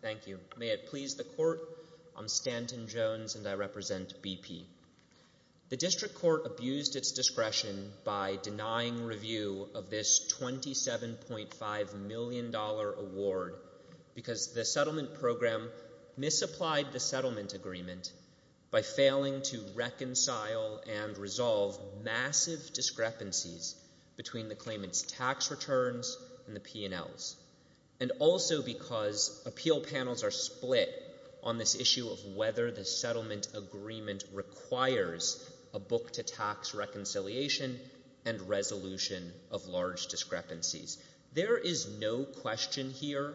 Thank you. May it please the Court, I'm Stanton Jones and I represent BP. The District Court abused its discretion by denying review of this $27.5 million award because the settlement program misapplied the settlement agreement by failing to reconcile and resolve massive discrepancies between the claimants' tax returns and the P&Ls, and also because appeal panels are split on this issue of whether the settlement agreement requires a book-to-tax reconciliation and resolution of large discrepancies. There is no question here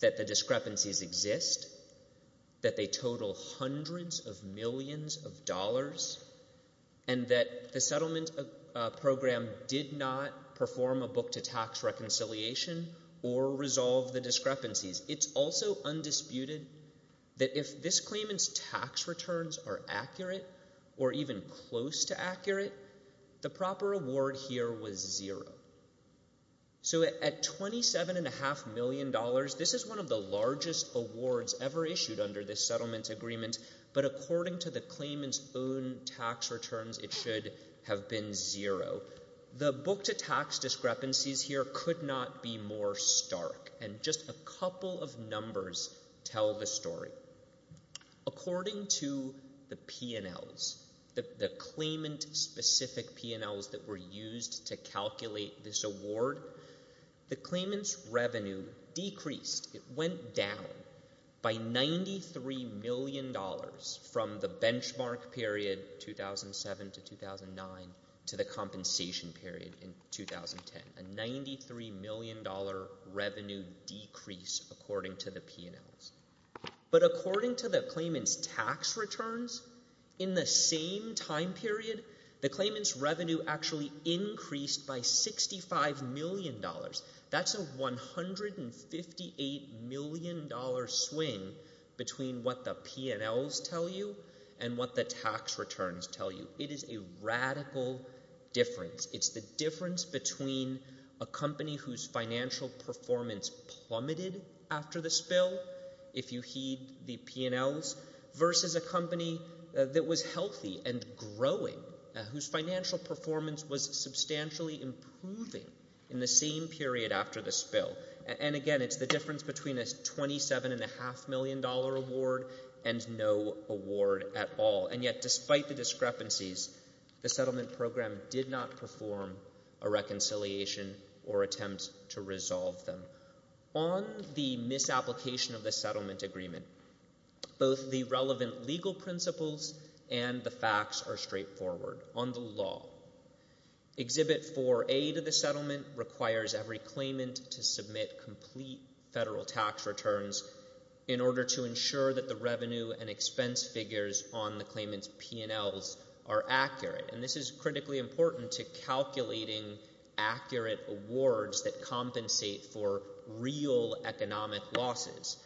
that the discrepancies exist, that they total hundreds of millions of dollars, and that the settlement program did not perform a book-to-tax reconciliation or resolve the discrepancies. It's also undisputed that if this claimant's tax returns are accurate, or even close to accurate, the proper award here was zero. So at $27.5 million, this is one of the largest awards ever issued under this settlement agreement, but according to the claimant's own tax returns, it should have been zero. The book-to-tax discrepancies here could not be more stark, and just a couple of numbers tell the story. According to the P&Ls, the claimant-specific P&Ls that were used to calculate this award, the claimant's revenue decreased, it went down, by $93 million from the benchmark period 2007 to 2009 to the compensation period in 2009, and it did decrease according to the P&Ls. But according to the claimant's tax returns, in the same time period, the claimant's revenue actually increased by $65 million. That's a $158 million swing between what the P&Ls tell you and what the tax returns tell you. It is a radical difference. It's the difference between a company whose financial performance plummeted after the spill, if you heed the P&Ls, versus a company that was healthy and growing, whose financial performance was substantially improving in the same period after the spill. And again, it's the difference between a $27.5 million award and no award at all. And yet, despite the discrepancies, the settlement program did not perform a reconciliation or attempt to resolve them. On the misapplication of the settlement agreement, both the relevant legal principles and the facts are straightforward. On the law, Exhibit 4A to the settlement requires every claimant to submit complete federal tax returns in order to ensure that the revenue and expense figures on the claimant's P&Ls are accurate. And this is critically important to calculating accurate awards that compensate for real economic losses.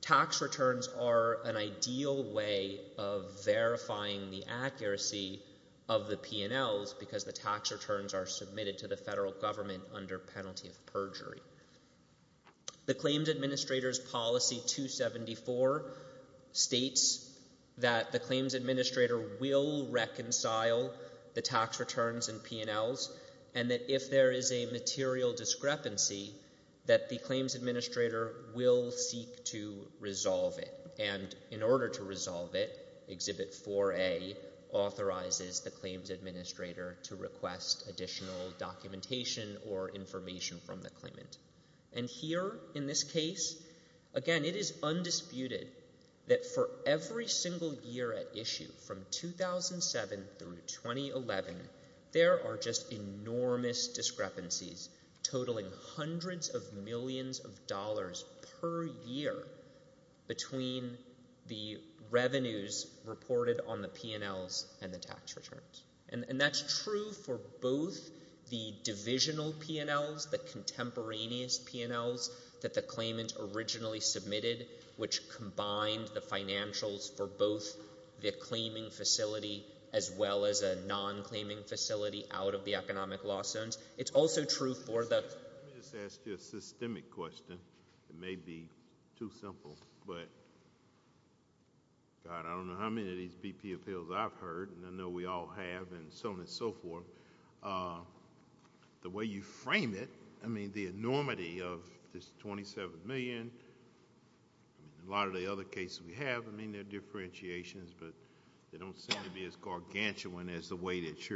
Tax returns are an ideal way of verifying the accuracy of the P&Ls because the tax returns are submitted to the federal government under penalty of perjury. The Claims Administrator's Policy 274 states that the Claims Administrator will reconcile the tax returns and P&Ls, and that if there is a material discrepancy, that the Claims Administrator will seek to resolve it. And in order to resolve it, Exhibit 4A authorizes the Claims Administrator to request additional documentation or information from the claimant. And here, in this case, again, it is undisputed that for every single year at issue from 2007 through 2011, there are just enormous discrepancies totaling hundreds of millions of dollars per year between the both the divisional P&Ls, the contemporaneous P&Ls that the claimant originally submitted, which combined the financials for both the claiming facility as well as a non-claiming facility out of the economic loss zones. It's also true for the... Let me just ask you a systemic question. It may be too simple, but, God, I don't know how many of these BP appeals I've heard, and I know we all have, and so on and so forth. The way you frame it, I mean, the enormity of this $27 million, a lot of the other cases we have, I mean, there are differentiations, but they don't seem to be as gargantuan as the way that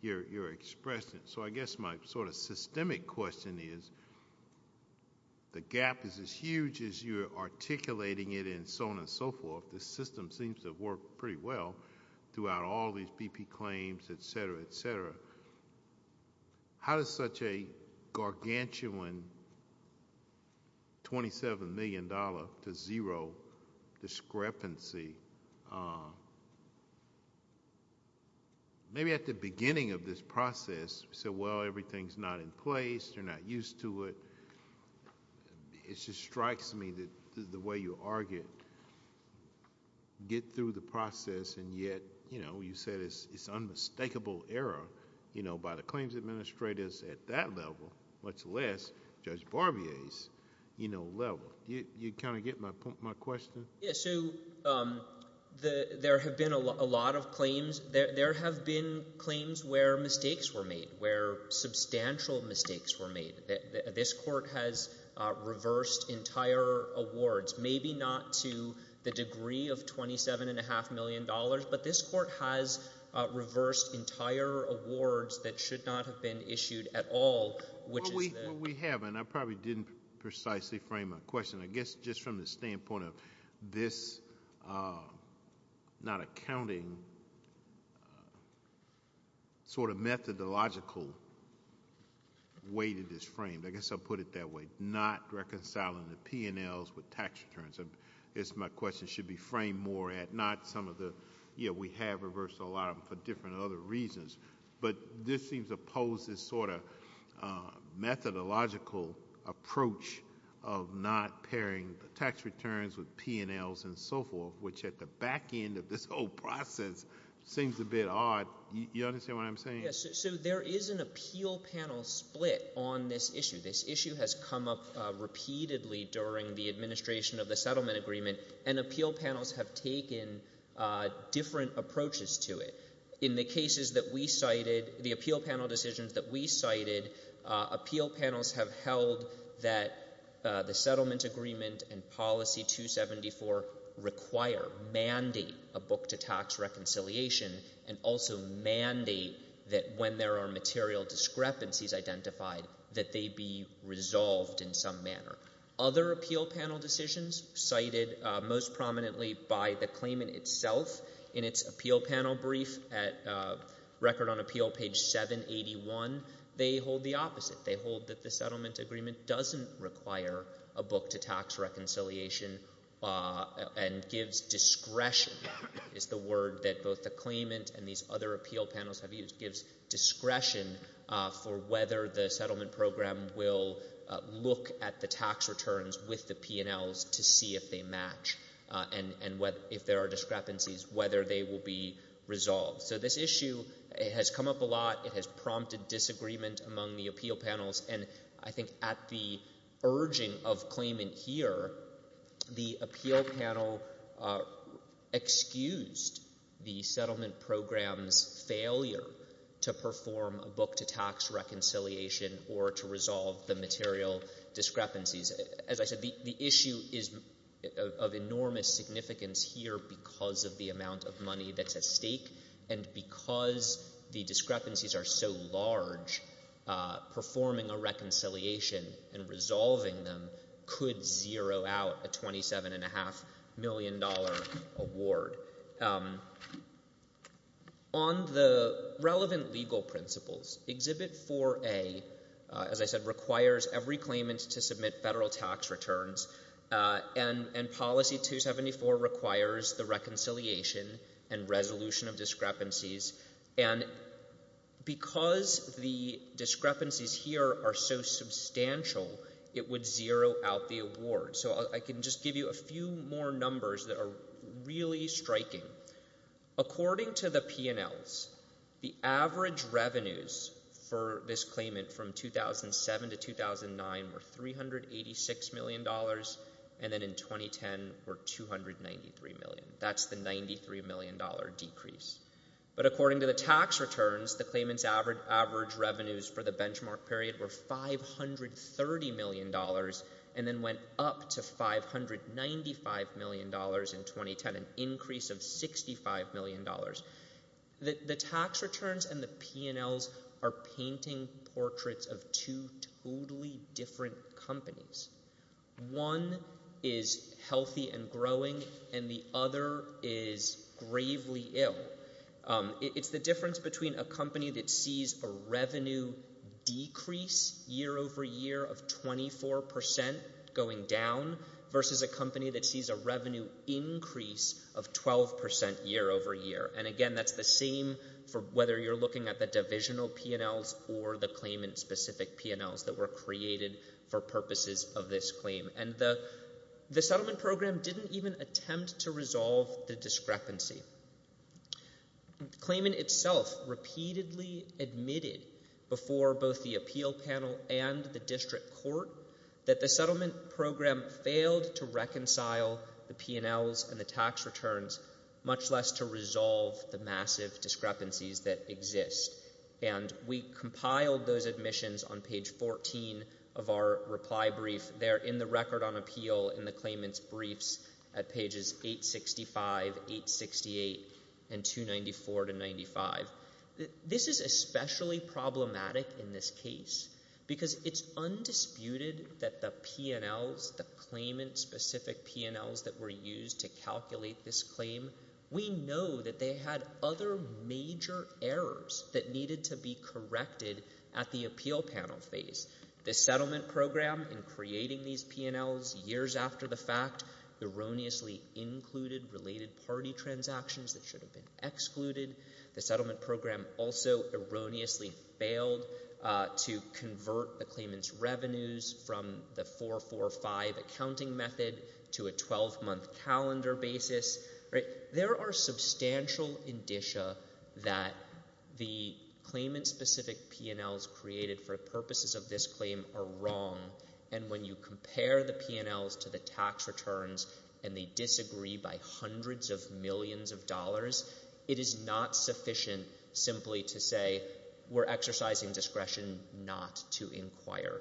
you're expressing it. So I guess my sort of systemic question is, the gap is huge as you're articulating it and so on and so forth. The system seems to work pretty well throughout all these BP claims, et cetera, et cetera. How does such a gargantuan $27 million to zero discrepancy... Maybe at the beginning of this process, we said, well, everything's not in place. They're not used to it. It just strikes me that the way you argue, get through the process, and yet you said it's unmistakable error by the claims administrators at that level, much less Judge Barbier's level. Do you kind of get my question? Yes. So there have been a lot of claims. There have been claims where mistakes were made, where substantial mistakes were made. This Court has reversed entire awards, maybe not to the degree of $27.5 million, but this Court has reversed entire awards that should not have been issued at all, which is the... Well, we have, and I probably didn't precisely frame my question. I guess just from the standpoint of this not accounting sort of methodological way that it's framed, I guess I'll put it that way, not reconciling the P&Ls with tax returns. My question should be framed more at not some of the... We have reversed a lot of them for different other reasons, but this seems to pose this sort of methodological approach of not pairing the tax returns with P&Ls and so forth, which at the back end of this whole process seems a bit odd. You understand what I'm saying? So there is an appeal panel split on this issue. This issue has come up repeatedly during the administration of the settlement agreement, and appeal panels have taken different approaches to it. In the cases that we cited, the appeal panel decisions that we cited, appeal panels have held that the settlement agreement and policy 274 require, mandate a book-to-tax reconciliation, and also mandate that when there are material discrepancies identified that they be resolved in some manner. Other appeal panel decisions cited most prominently by the claimant itself in its appeal panel brief at Record on Appeal page 781, they hold the opposite. They hold that the settlement agreement doesn't require a book-to-tax reconciliation and gives discretion, is the word that both the claimant and these other appeal panels have used, gives discretion for whether the settlement program will look at the tax returns with the P&Ls to see if they match, and if there are discrepancies, whether they will be resolved. So this issue has come up a lot. It has prompted disagreement among the appeal panel. The appeal panel excused the settlement program's failure to perform a book-to-tax reconciliation or to resolve the material discrepancies. As I said, the issue is of enormous significance here because of the amount of money that's at stake, and because the discrepancies are so large, performing a reconciliation and resolving them could zero out a $27.5 million award. On the relevant legal principles, Exhibit 4A, as I said, requires every claimant to submit federal tax returns, and Policy 274 requires the reconciliation and resolution of discrepancies, and because the discrepancies here are so large, they're a $27.5 million award. So I can just give you a few more numbers that are really striking. According to the P&Ls, the average revenues for this claimant from 2007 to 2009 were $386 million, and then in 2010 were $293 million. That's the $93 million decrease. But according to the tax returns, the claimant's average revenues for the year were up to $595 million in 2010, an increase of $65 million. The tax returns and the P&Ls are painting portraits of two totally different companies. One is healthy and growing, and the other is gravely ill. It's the difference between a company that sees a revenue decrease year over year of 24 percent going down versus a company that sees a revenue increase of 12 percent year over year. And again, that's the same for whether you're looking at the divisional P&Ls or the claimant-specific P&Ls that were created for purposes of this claim. And the settlement program didn't even attempt to resolve the discrepancy. The claimant itself repeatedly admitted before both the appeal panel and the district court that the settlement program failed to reconcile the P&Ls and the tax returns, much less to resolve the massive discrepancies that exist. And we compiled those admissions on page 14 of our reply brief. They're in the record on appeal in the claimant's briefs at pages 865, 868, and 294 to 95. This is especially problematic in this case because it's undisputed that the P&Ls, the claimant-specific P&Ls that were used to calculate this claim, we know that they had other major errors that needed to be corrected at the appeal panel phase. The settlement program in creating these P&Ls years after the fact erroneously included related party transactions that should have been excluded. The settlement program also erroneously failed to convert the claimant's revenues from the 445 accounting method to a 12-month calendar basis. There are substantial indicia that the claimant-specific P&Ls created for purposes of this claim are wrong, and when you compare the P&Ls to the tax returns and they disagree by hundreds of millions of dollars, it is not sufficient simply to say we're exercising discretion not to inquire.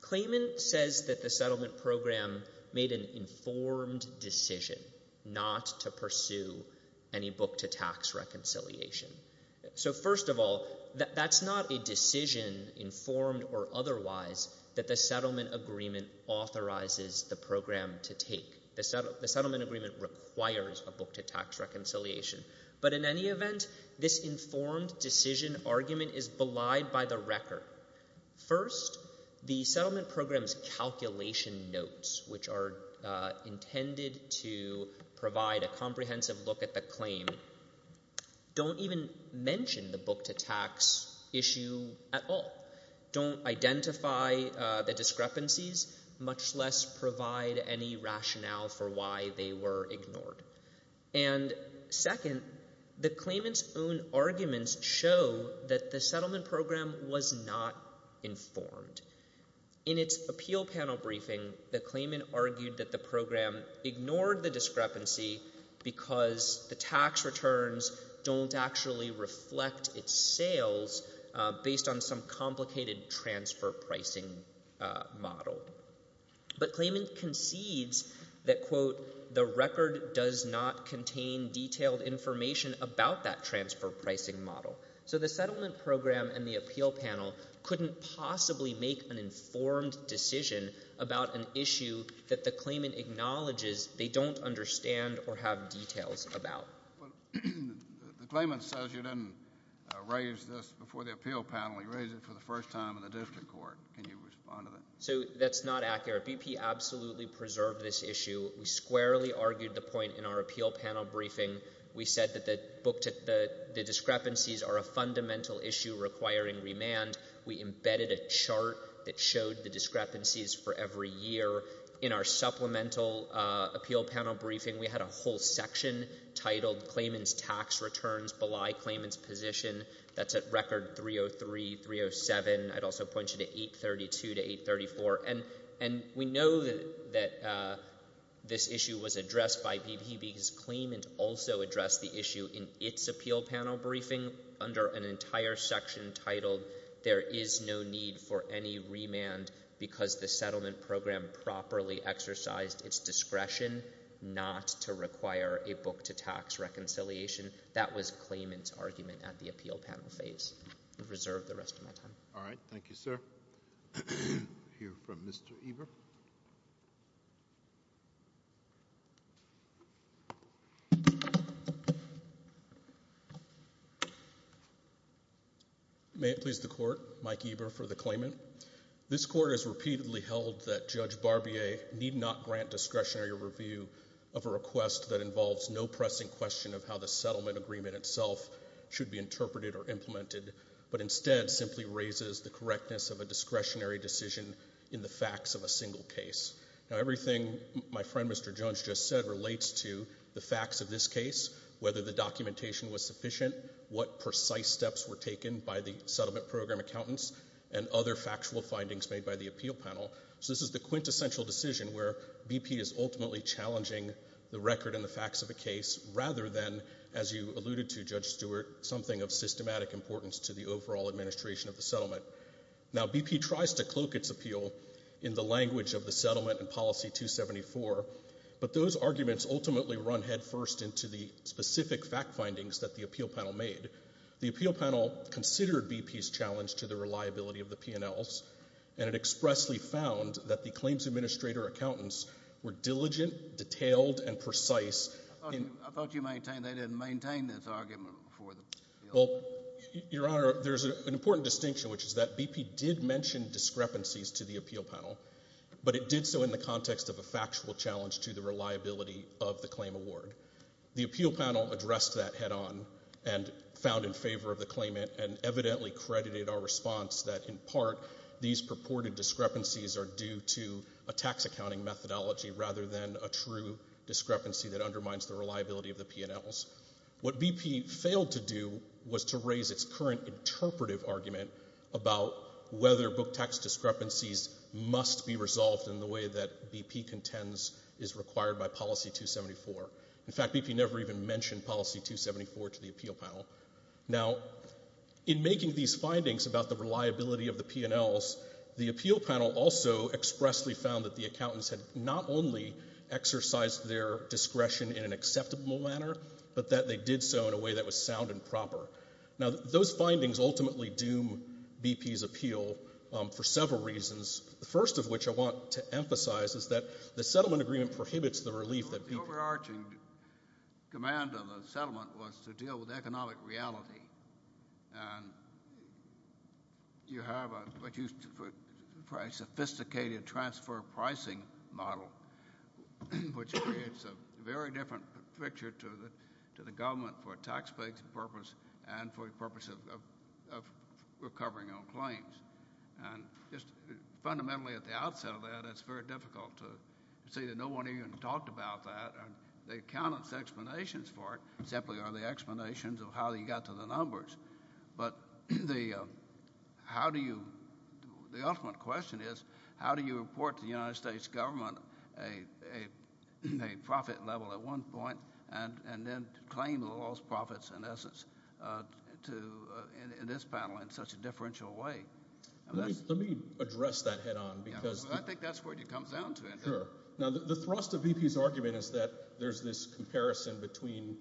Claimant says that the settlement So first of all, that's not a decision, informed or otherwise, that the settlement agreement authorizes the program to take. The settlement agreement requires a book to tax reconciliation. But in any event, this informed decision argument is belied by the record. First, the settlement program's calculation notes, which are intended to provide a comprehensive look at the claim, don't even mention the book-to-tax issue at all. Don't identify the discrepancies, much less provide any rationale for why they were ignored. And second, the claimant's own arguments show that the settlement program was not informed. In its appeal panel briefing, the claimant argued that the program ignored the discrepancy because the tax returns don't actually reflect its sales based on some complicated transfer pricing model. But claimant concedes that, quote, the record does not contain detailed information about that transfer pricing model. So the settlement program and the appeal panel couldn't possibly make an informed decision about an issue that the claimant acknowledges they don't understand or have details about. The claimant says you didn't raise this before the appeal panel. He raised it for the first time in the district court. Can you respond to that? So that's not accurate. BP absolutely preserved this issue. We squarely argued the point in our appeal panel briefing. We said that the discrepancies are a fundamental issue requiring remand. We embedded a chart that showed the every year. In our supplemental appeal panel briefing, we had a whole section titled claimant's tax returns belie claimant's position. That's at record 303, 307. I'd also point you to 832 to 834. And we know that this issue was addressed by BP because claimant also addressed the issue in its appeal panel briefing under an entire section titled there is no need for any remand because the settlement program properly exercised its discretion not to require a book to tax reconciliation. That was claimant's argument at the appeal panel phase. I'll reserve the rest of my time. All right. Thank you, sir. We'll hear from Mr. Eber. May it please the court. Mike Eber for the claimant. This court has repeatedly held that Judge Barbier need not grant discretionary review of a request that involves no pressing question of how the settlement agreement itself should be interpreted or implemented but instead simply raises the correctness of a discretionary decision in the facts of a single case. Now, everything my friend Mr. Jones just said relates to the facts of this case, whether the documentation was sufficient, what precise steps were taken by the settlement program accountants and other factual findings made by the appeal panel. So this is the quintessential decision where BP is ultimately challenging the record and the facts of a case rather than as you alluded to, Judge Eber. Now, BP tries to cloak its appeal in the language of the settlement and policy 274 but those arguments ultimately run head first into the specific fact findings that the appeal panel made. The appeal panel considered BP's challenge to the reliability of the P&Ls and it expressly found that the claims administrator accountants were diligent, detailed and precise. I thought they didn't maintain this argument for them. Well, Your Honor, there's an important distinction which is that BP did mention discrepancies to the appeal panel but it did so in the context of a factual challenge to the reliability of the claim award. The appeal panel addressed that head on and found in favor of the claimant and evidently credited our response that in part these purported discrepancies are due to a tax accounting methodology rather than a true discrepancy that undermines the reliability of the P&Ls. What BP failed to do was to raise its current interpretive argument about whether book tax discrepancies must be resolved in the way that BP contends is required by policy 274. In fact, BP never even mentioned policy 274 to the appeal panel. Now, in making these findings about the reliability of the P&Ls, the appeal panel also expressly found that the accountants had not only exercised their discretion in an acceptable manner but that they did so in a way that was sound and proper. Now, those findings ultimately doom BP's appeal for several reasons, the first of which I want to emphasize is that the settlement agreement prohibits the relief that BP... The overarching command of the settlement was to deal with economic reality. You have a sophisticated transfer pricing model, which creates a very different picture to the government for a taxpayer's purpose and for the purpose of recovering on claims. Just fundamentally at the outset of that, it's very difficult to say that no one even talked about that. The accountants' explanations for it simply are the explanations of how you got to the numbers. But the ultimate question is, how do you report to the United States government a profit level at one point and then claim the lost profits in essence in this panel in such a differential way? Let me address that head on because... I think that's where it comes down to. Sure. Now, the thrust of BP's argument is that there's this problem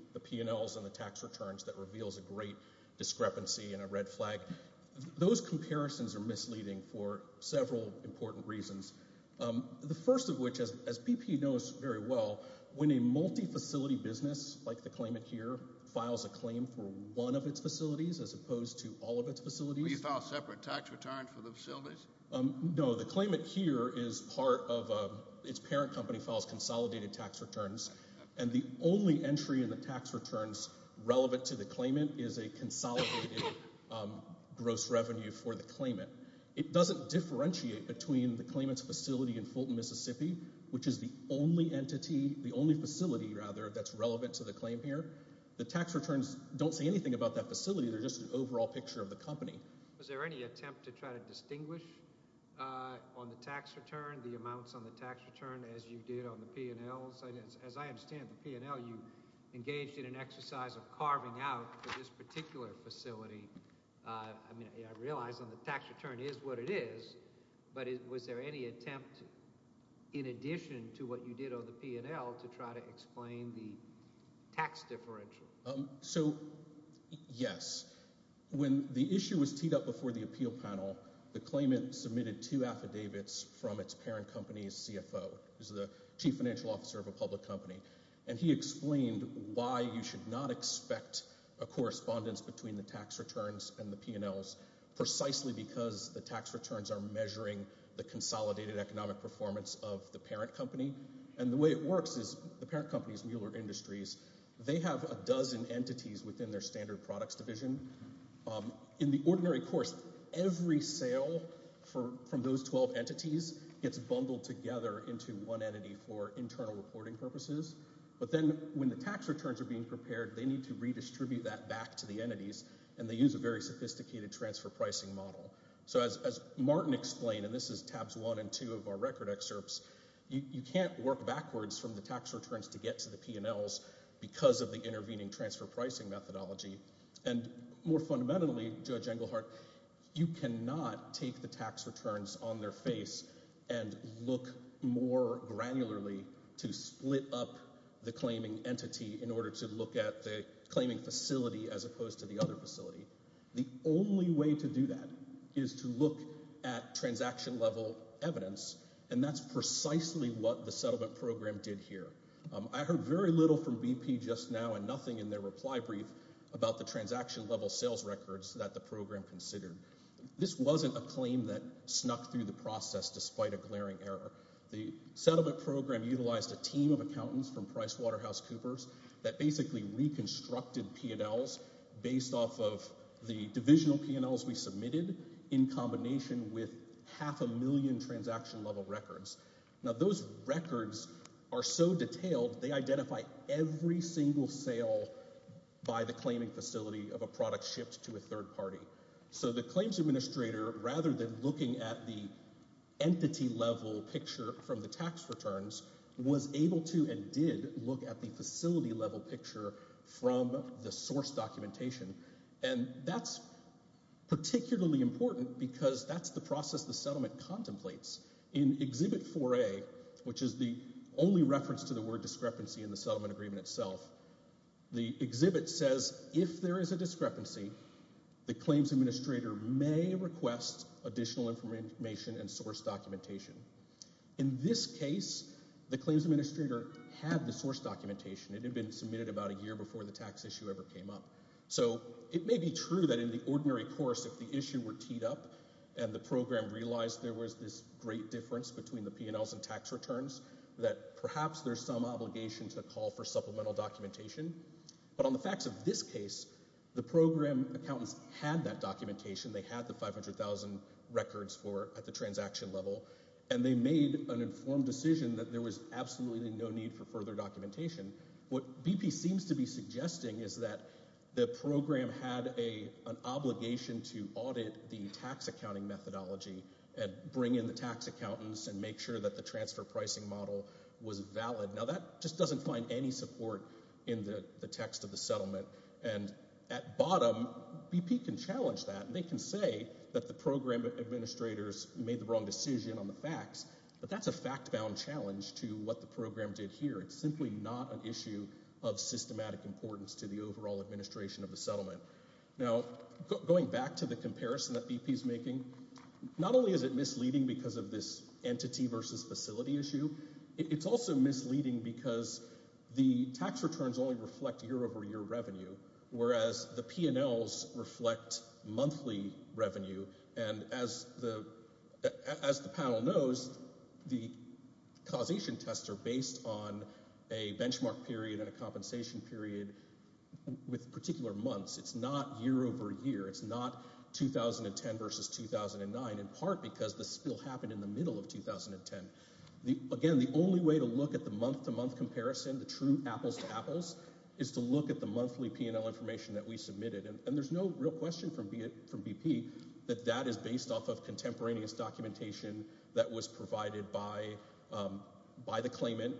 of tax returns that reveals a great discrepancy and a red flag. Those comparisons are misleading for several important reasons. The first of which, as BP knows very well, when a multi-facility business like the claimant here files a claim for one of its facilities as opposed to all of its facilities... We file separate tax returns for the facilities? No, the claimant here is part of... Its parent company files consolidated tax returns, and the only entry in the tax returns relevant to the claimant is a consolidated gross revenue for the claimant. It doesn't differentiate between the claimant's facility in Fulton, Mississippi, which is the only entity, the only facility, rather, that's relevant to the claim here. The tax returns don't say anything about that facility. They're just an overall picture of the company. Was there any attempt to try to distinguish on the tax return, the amounts on the tax return, as you did on the P&Ls? As I understand, the P&L, you engaged in an exercise of carving out for this particular facility. I mean, I realize on the tax return is what it is, but was there any attempt in addition to what you did on the P&L to try to explain the tax differential? So, yes. When the issue was teed up before the appeal panel, the claimant submitted two affidavits from its parent company's CFO, who's the chief financial officer of a public company, and he explained why you should not expect a correspondence between the tax returns and the P&Ls precisely because the tax returns are measuring the consolidated economic performance of the parent company, and the way it works is the parent company's Mueller Industries, they have a dozen entities within their standard products division. In the ordinary course, every sale from those 12 entities gets bundled together into one entity for internal reporting purposes, but then when the tax returns are being prepared, they need to redistribute that back to the entities, and they use a very sophisticated transfer pricing model. So, as Martin explained, and this is tabs one and two of our record excerpts, you can't work backwards from the tax returns to get to the P&Ls because of the intervening transfer pricing methodology, and more fundamentally, Judge Englehart, you cannot take the tax returns on their face and look more granularly to split up the claiming entity in order to look at the claiming facility as opposed to the other facility. The only way to do that is to look at transaction level evidence, and that's precisely what the settlement program did here. I heard very little from BP just now and nothing in their reply brief about the transaction level sales records that the program considered. This wasn't a claim that snuck through the process despite a glaring error. The settlement program utilized a team of accountants from Pricewaterhouse Coopers that basically reconstructed P&Ls based off of the divisional P&Ls we submitted in combination with half a million transaction level records. Now, those records are so detailed, they identify every single sale by the claiming facility of a product shipped to a third party. So, the claims administrator, rather than looking at the entity level picture from the tax returns, was able to and did look at the facility level picture from the source documentation, and that's particularly important because that's the process the settlement contemplates. In Exhibit 4A, which is the only reference to the word discrepancy in the settlement agreement itself, the exhibit says if there is a discrepancy, the claims administrator may request additional information and source documentation. In this case, the claims administrator had the source documentation. It had been submitted about a year before the tax issue ever came up. So, it may be true that in the ordinary course, if the issue were teed up and the program realized there was this great difference between the P&Ls and tax returns, that perhaps there's some obligation to call for supplemental documentation. But on the facts of this case, the program accountants had that documentation. They had the 500,000 records at the transaction level, and they made an informed decision that there was absolutely no need for further documentation. What BP seems to be suggesting is that the program had an obligation to audit the tax accounting methodology and bring in the tax accountants and make sure that the transfer pricing model was valid. Now, that just doesn't find any support in the text of the settlement, and at bottom, BP can challenge that. They can say that the program administrators made the wrong decision on the facts, but that's a fact-bound challenge to what the program did here. It's simply not an issue of systematic importance to the overall administration of the settlement. Now, going back to the comparison that BP is making, not only is it misleading because of this entity versus facility issue, it's also misleading because the tax returns only reflect year-over-year revenue, whereas the P&Ls reflect monthly revenue. And as the panel knows, the causation tests are based on a benchmark period and a compensation period with particular months. It's not year-over-year. It's not 2010 versus 2009, in part because the spill happened in the middle of 2010. Again, the only way to look at the month-to-month comparison, the true apples-to-apples, is to look at the monthly P&L information that we submitted. And there's no real from BP that that is based off of contemporaneous documentation that was provided by the claimant,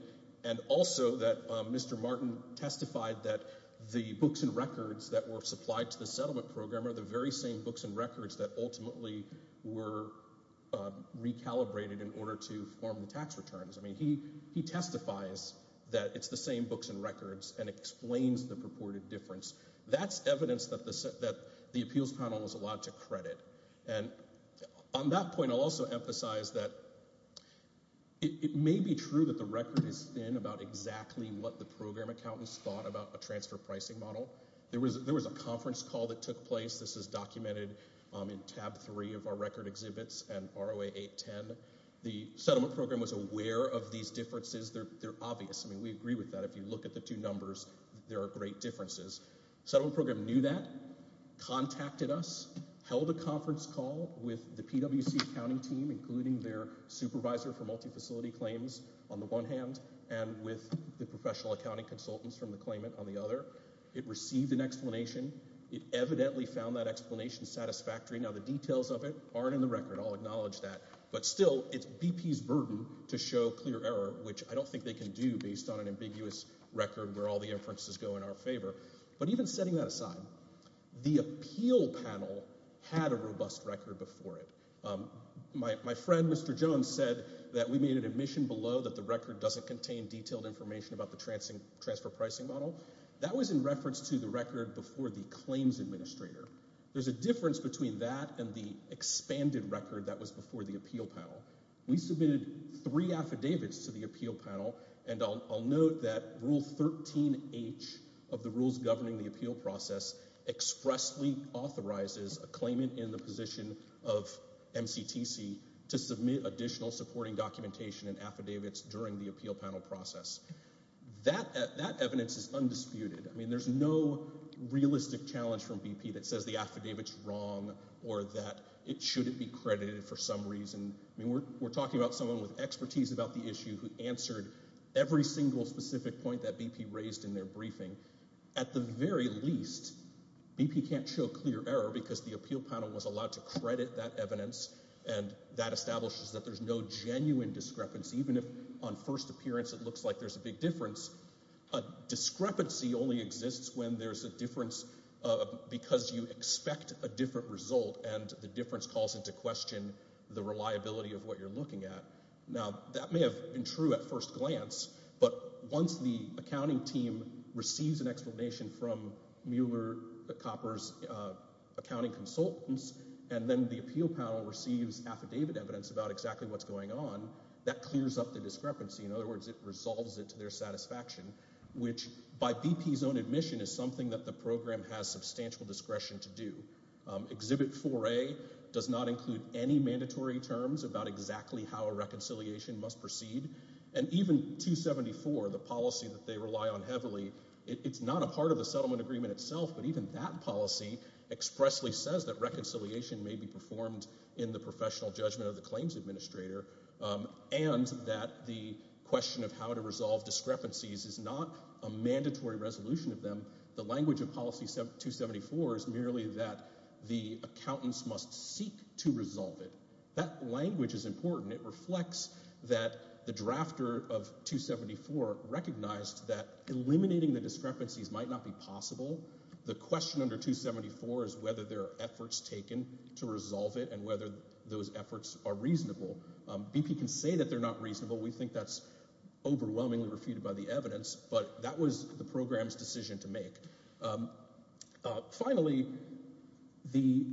and also that Mr. Martin testified that the books and records that were supplied to the settlement program are the very same books and records that ultimately were recalibrated in order to form the tax returns. I mean, he testifies that it's the same books and records and explains the purported difference. That's evidence that the appeals panel was allowed to credit. And on that point, I'll also emphasize that it may be true that the record is thin about exactly what the program accountants thought about a transfer pricing model. There was a conference call that took place. This is documented in tab three of our record exhibits and ROA 810. The settlement program was aware of these differences. They're obvious. I mean, we agree with that. If you look at the two numbers, there are great differences. Settlement program knew that, contacted us, held a conference call with the PwC accounting team, including their supervisor for multifacility claims on the one hand, and with the professional accounting consultants from the claimant on the other. It received an explanation. It evidently found that explanation satisfactory. Now, the details of it aren't in the record. I'll acknowledge that. But still, it's BP's burden to show clear which I don't think they can do based on an ambiguous record where all the inferences go in our favor. But even setting that aside, the appeal panel had a robust record before it. My friend, Mr. Jones, said that we made an admission below that the record doesn't contain detailed information about the transfer pricing model. That was in reference to the record before the claims administrator. There's a difference between that and the expanded record that was for the appeal panel. We submitted three affidavits to the appeal panel, and I'll note that Rule 13H of the rules governing the appeal process expressly authorizes a claimant in the position of MCTC to submit additional supporting documentation and affidavits during the appeal panel process. That evidence is undisputed. I mean, there's no realistic challenge from BP that says the affidavit's wrong or that it shouldn't be credited for some reason. We're talking about someone with expertise about the issue who answered every single specific point that BP raised in their briefing. At the very least, BP can't show clear error because the appeal panel was allowed to credit that evidence, and that establishes that there's no genuine discrepancy, even if on first appearance it looks like there's a big difference. A discrepancy only exists when there's a difference because you expect a different result, and the difference calls into question the reliability of what you're looking at. Now, that may have been true at first glance, but once the accounting team receives an explanation from Mueller, Copper's accounting consultants, and then the appeal panel receives affidavit evidence about exactly what's going on, that clears up the discrepancy. In other words, it resolves it to their satisfaction, which by BP's own admission is something that the program has substantial discretion to do. Exhibit 4A does not include any mandatory terms about exactly how a reconciliation must proceed, and even 274, the policy that they rely on heavily, it's not a part of the settlement agreement itself, but even that policy expressly says that reconciliation may be performed in the professional judgment of the claims administrator, and that the question of how to resolve discrepancies is not a mandatory resolution of them. The language of policy 274 is merely that the accountants must seek to resolve it. That language is important. It reflects that the drafter of 274 recognized that eliminating the discrepancies might not be possible. The question under 274 is whether there are efforts taken to resolve it and whether those evidence, but that was the program's decision to make. Finally, the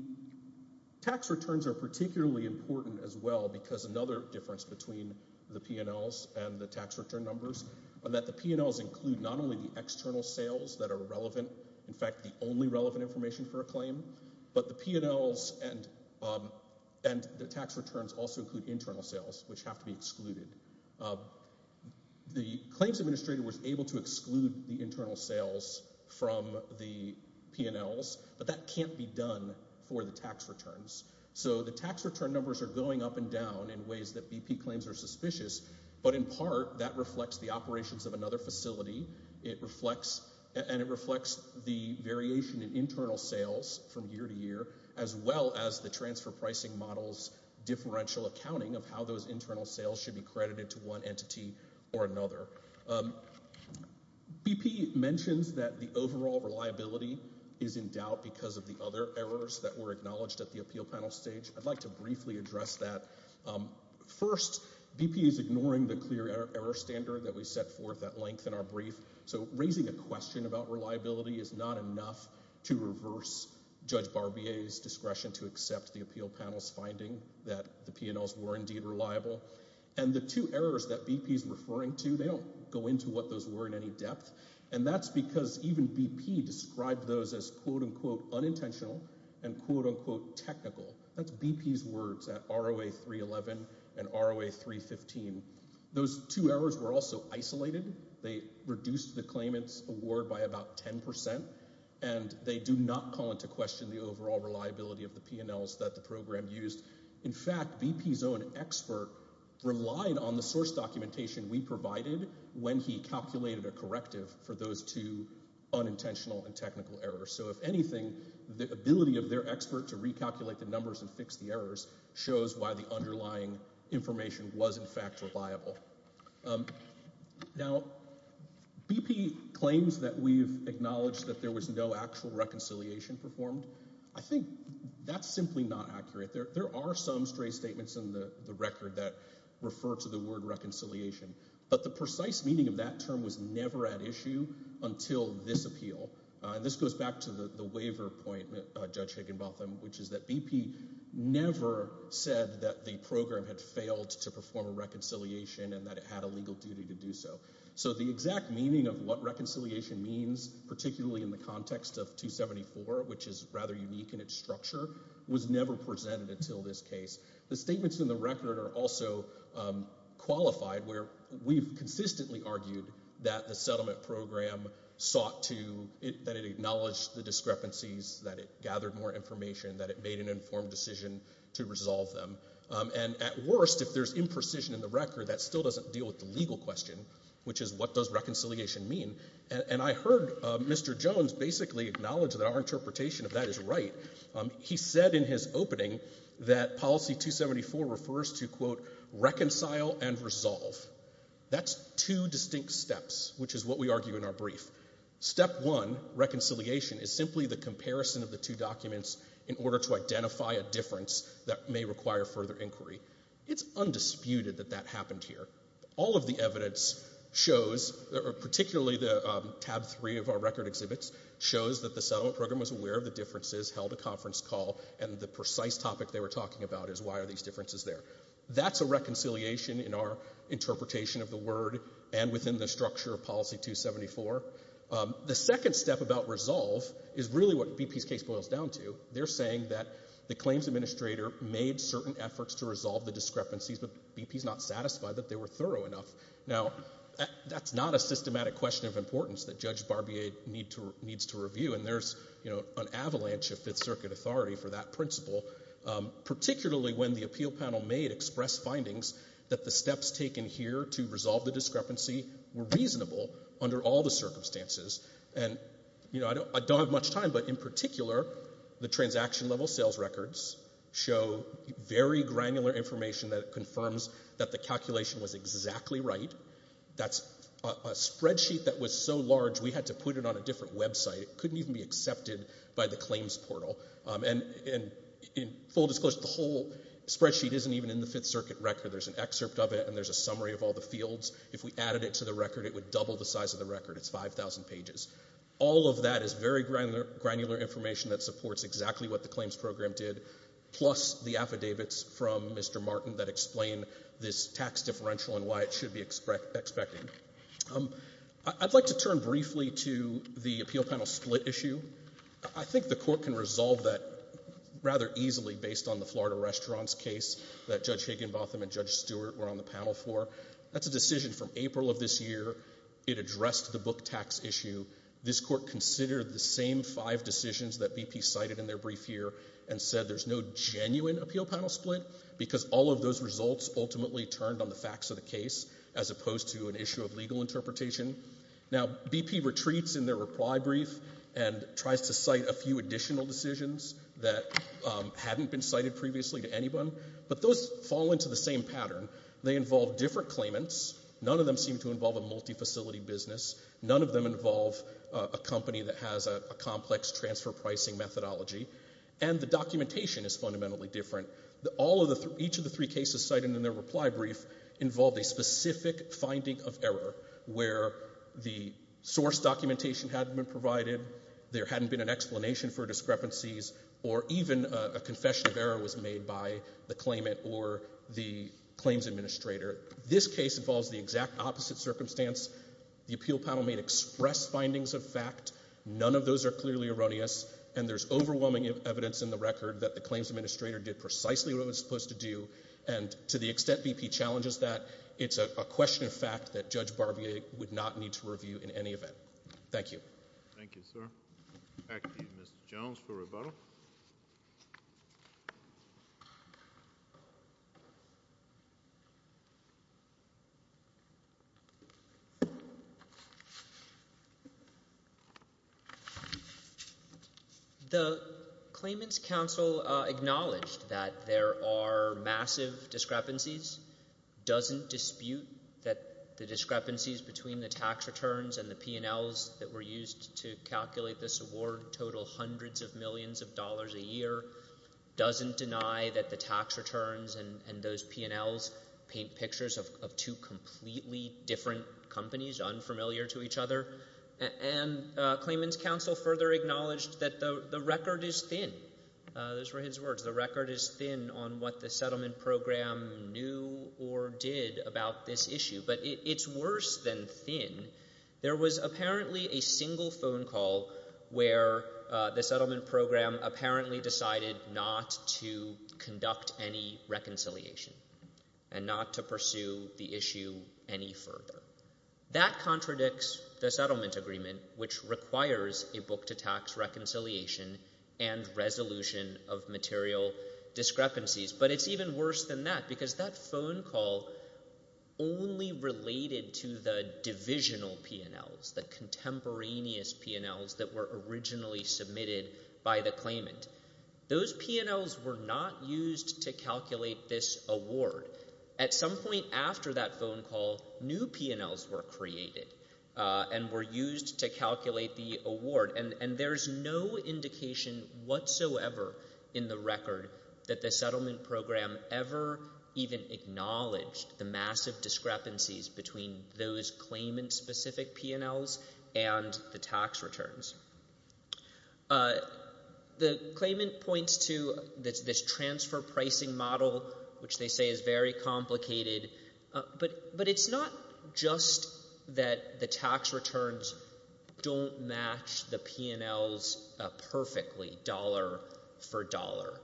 tax returns are particularly important as well because another difference between the P&Ls and the tax return numbers are that the P&Ls include not only the external sales that are relevant, in fact, the only relevant information for a claim, but the P&Ls and the tax returns also include internal sales, which have to be excluded. The claims administrator was able to exclude the internal sales from the P&Ls, but that can't be done for the tax returns. So the tax return numbers are going up and down in ways that BP claims are suspicious, but in part that reflects the operations of another facility. It reflects the variation in internal sales from year to year, as well as the transfer pricing model's differential accounting of how those internal sales should be credited to one entity or another. BP mentions that the overall reliability is in doubt because of the other errors that were acknowledged at the appeal panel stage. I'd like to briefly address that. First, BP is ignoring the clear error standard that we set forth at length in our brief, so raising a question about reliability is not enough to reverse Judge to accept the appeal panel's finding that the P&Ls were indeed reliable. And the two errors that BP is referring to, they don't go into what those were in any depth, and that's because even BP described those as quote-unquote unintentional and quote-unquote technical. That's BP's words at ROA 311 and ROA 315. Those two errors were also isolated. They reduced the claimant's award by about 10 percent, and they do not call into question the overall reliability of the P&Ls that the program used. In fact, BP's own expert relied on the source documentation we provided when he calculated a corrective for those two unintentional and technical errors. So if anything, the ability of their expert to recalculate the numbers and fix the errors shows why the underlying information was in fact reliable. Now, BP claims that we've acknowledged that there was no actual reconciliation performed. I think that's simply not accurate. There are some stray statements in the record that refer to the word reconciliation, but the precise meaning of that term was never at issue until this appeal. And this goes back to the waiver point, Judge Higginbotham, which is that BP never said that the program had failed to perform a reconciliation and that it had a legal duty to do so. So the exact meaning of what reconciliation means, particularly in the context of 274, which is rather unique in its structure, was never presented until this case. The statements in the record are also qualified where we've consistently argued that the settlement program sought to, that it acknowledged the discrepancies, that it gathered more information, that it made an informed decision to resolve them. And at worst, if there's imprecision in the record, that still doesn't deal with the legal question, which is what does reconciliation mean. And I heard Mr. Jones basically acknowledge that our interpretation of that is right. He said in his opening that policy 274 refers to, quote, reconcile and resolve. That's two distinct steps, which is what we argue in our brief. Step one, reconciliation, is simply the comparison of the two documents in order to identify a difference that may require further inquiry. It's undisputed that that evidence shows, particularly the tab three of our record exhibits, shows that the settlement program was aware of the differences, held a conference call, and the precise topic they were talking about is why are these differences there. That's a reconciliation in our interpretation of the word and within the structure of policy 274. The second step about resolve is really what BP's case boils down to. They're saying that the claims administrator made certain efforts to resolve the discrepancies, but BP's not satisfied that they were thorough enough. Now, that's not a systematic question of importance that Judge Barbier needs to review, and there's, you know, an avalanche of Fifth Circuit authority for that principle, particularly when the appeal panel made express findings that the steps taken here to resolve the discrepancy were reasonable under all the circumstances. And, you know, I don't have much time, but in particular, the transaction level sales records show very granular information that confirms that the calculation was exactly right. That's a spreadsheet that was so large we had to put it on a different website. It couldn't even be accepted by the claims portal. And in full disclosure, the whole spreadsheet isn't even in the Fifth Circuit record. There's an excerpt of it, and there's a summary of all the fields. If we added it to the record, it would double the size of the record. It's 5,000 pages. All of that is very granular information that supports exactly what the claims program did, plus the affidavits from Mr. Martin that explain this tax differential and why it should be expected. I'd like to turn briefly to the appeal panel split issue. I think the Court can resolve that rather easily based on the Florida restaurants case that Judge Higginbotham and Judge Stewart were on the panel for. That's a decision from April of this year. It addressed the book tax issue. This Court considered the same five decisions that BP cited in their brief here and said there's no genuine appeal panel split because all of those results ultimately turned on the facts of the case as opposed to an issue of legal interpretation. Now, BP retreats in their reply brief and tries to cite a few additional decisions that hadn't been cited previously to anyone, but those fall into the same pattern. They involve different claimants. None of them seem to involve a multifacility business. None of them involve a company that has a complex transfer pricing methodology, and the documentation is fundamentally different. Each of the three cases cited in their reply brief involved a specific finding of error where the source documentation hadn't been provided, there hadn't been an explanation for discrepancies, or even a confession of error was made by the claimant or the claims administrator. This case involves the exact opposite circumstance. The appeal panel may express findings of fact. None of those are clearly erroneous, and there's overwhelming evidence in the record that the claims administrator did precisely what it was supposed to do, and to the extent BP challenges that, it's a question of fact that Judge Barbier would not need to review in any event. Thank you. Thank you, sir. Back to you, Mr. Jones, for rebuttal. The claimants' counsel acknowledged that there are massive discrepancies, doesn't dispute that the discrepancies between the tax returns and the P&Ls that were used to calculate this award total hundreds of millions of dollars a year, doesn't deny that the tax returns and those P&Ls paint pictures of two completely different companies unfamiliar to each other, and claimants' counsel further acknowledged that the record is thin. Those were his words, the record is thin on what the settlement program knew or did about this issue, but it's worse than thin. There was apparently a single phone call where the settlement program apparently decided not to pursue the issue any further. That contradicts the settlement agreement, which requires a book to tax reconciliation and resolution of material discrepancies, but it's even worse than that, because that phone call only related to the divisional P&Ls, the contemporaneous P&Ls that were originally submitted by the claimant. Those P&Ls were not used to calculate this award. At some point after that phone call, new P&Ls were created and were used to calculate the award, and there's no indication whatsoever in the record that the settlement program ever even acknowledged the massive discrepancies between those claimant-specific P&Ls and the tax returns. The claimant points to this transfer pricing model, which they say is very complicated, but it's not just that the tax returns don't match the P&Ls perfectly, dollar for dollar.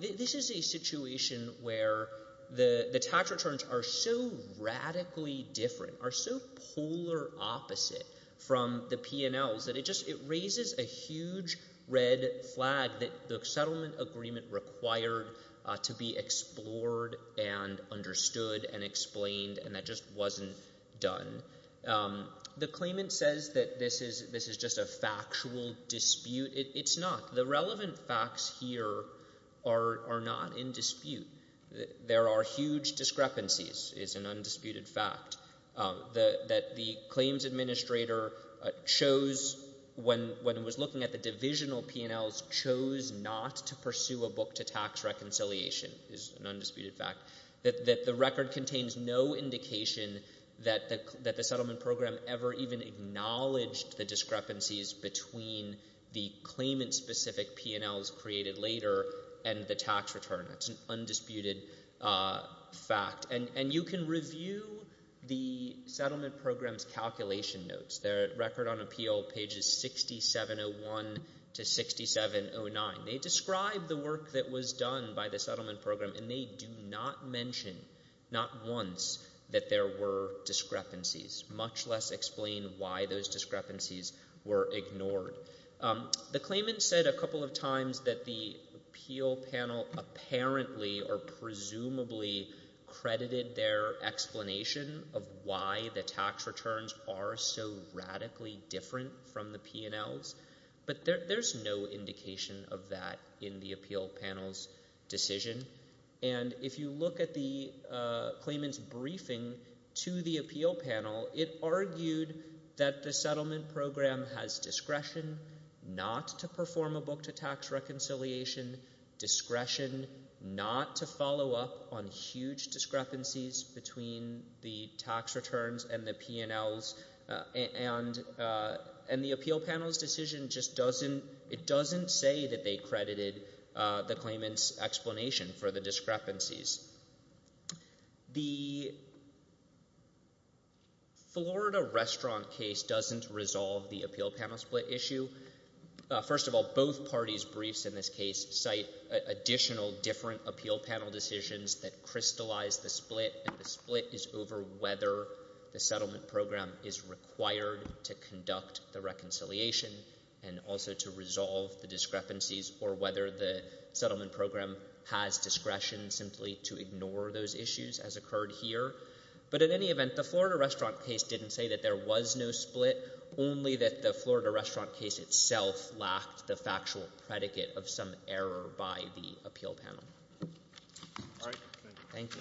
This is a situation where the tax returns are so radically different, are so polar opposite from the P&Ls, that it just raises a huge red flag that the settlement agreement required to be explored and understood and explained, and that just wasn't done. The claimant says that this is just a factual dispute. It's not. The relevant facts here are not in dispute. There are huge discrepancies, is an undisputed fact, that the claims administrator chose, when it was looking at the divisional P&Ls, chose not to pursue a book to tax reconciliation, is an undisputed fact, that the record contains no indication that the settlement program ever even acknowledged the discrepancies between the claimant-specific P&Ls created later and the tax return. That's an undisputed fact. And you can review the settlement program's calculation notes. They're at Record on Appeal, pages 6701 to 6709. They describe the work that was done by the settlement program, and they do not mention, not once, that there were discrepancies, much less explain why those discrepancies were ignored. The claimant said a couple of times that the appeal panel apparently or presumably credited their explanation of why the tax returns are so radically different from the P&Ls, but there's no indication of that in the appeal panel's decision. And if you look at the claimant's briefing to the appeal panel, it argued that the settlement discretion not to follow up on huge discrepancies between the tax returns and the P&Ls and the appeal panel's decision just doesn't, it doesn't say that they credited the claimant's explanation for the discrepancies. The Florida restaurant case doesn't resolve the appeal panel split issue. First of all, both parties' briefs in this case cite additional different appeal panel decisions that crystallized the split, and the split is over whether the settlement program is required to conduct the reconciliation and also to resolve the discrepancies or whether the settlement program has discretion simply to ignore those issues as occurred here. But in any event, the Florida restaurant case didn't say that there was no split, only that the Florida restaurant case itself lacked the factual predicate of some error by the appeal panel. All right. Thank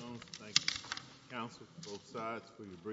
you.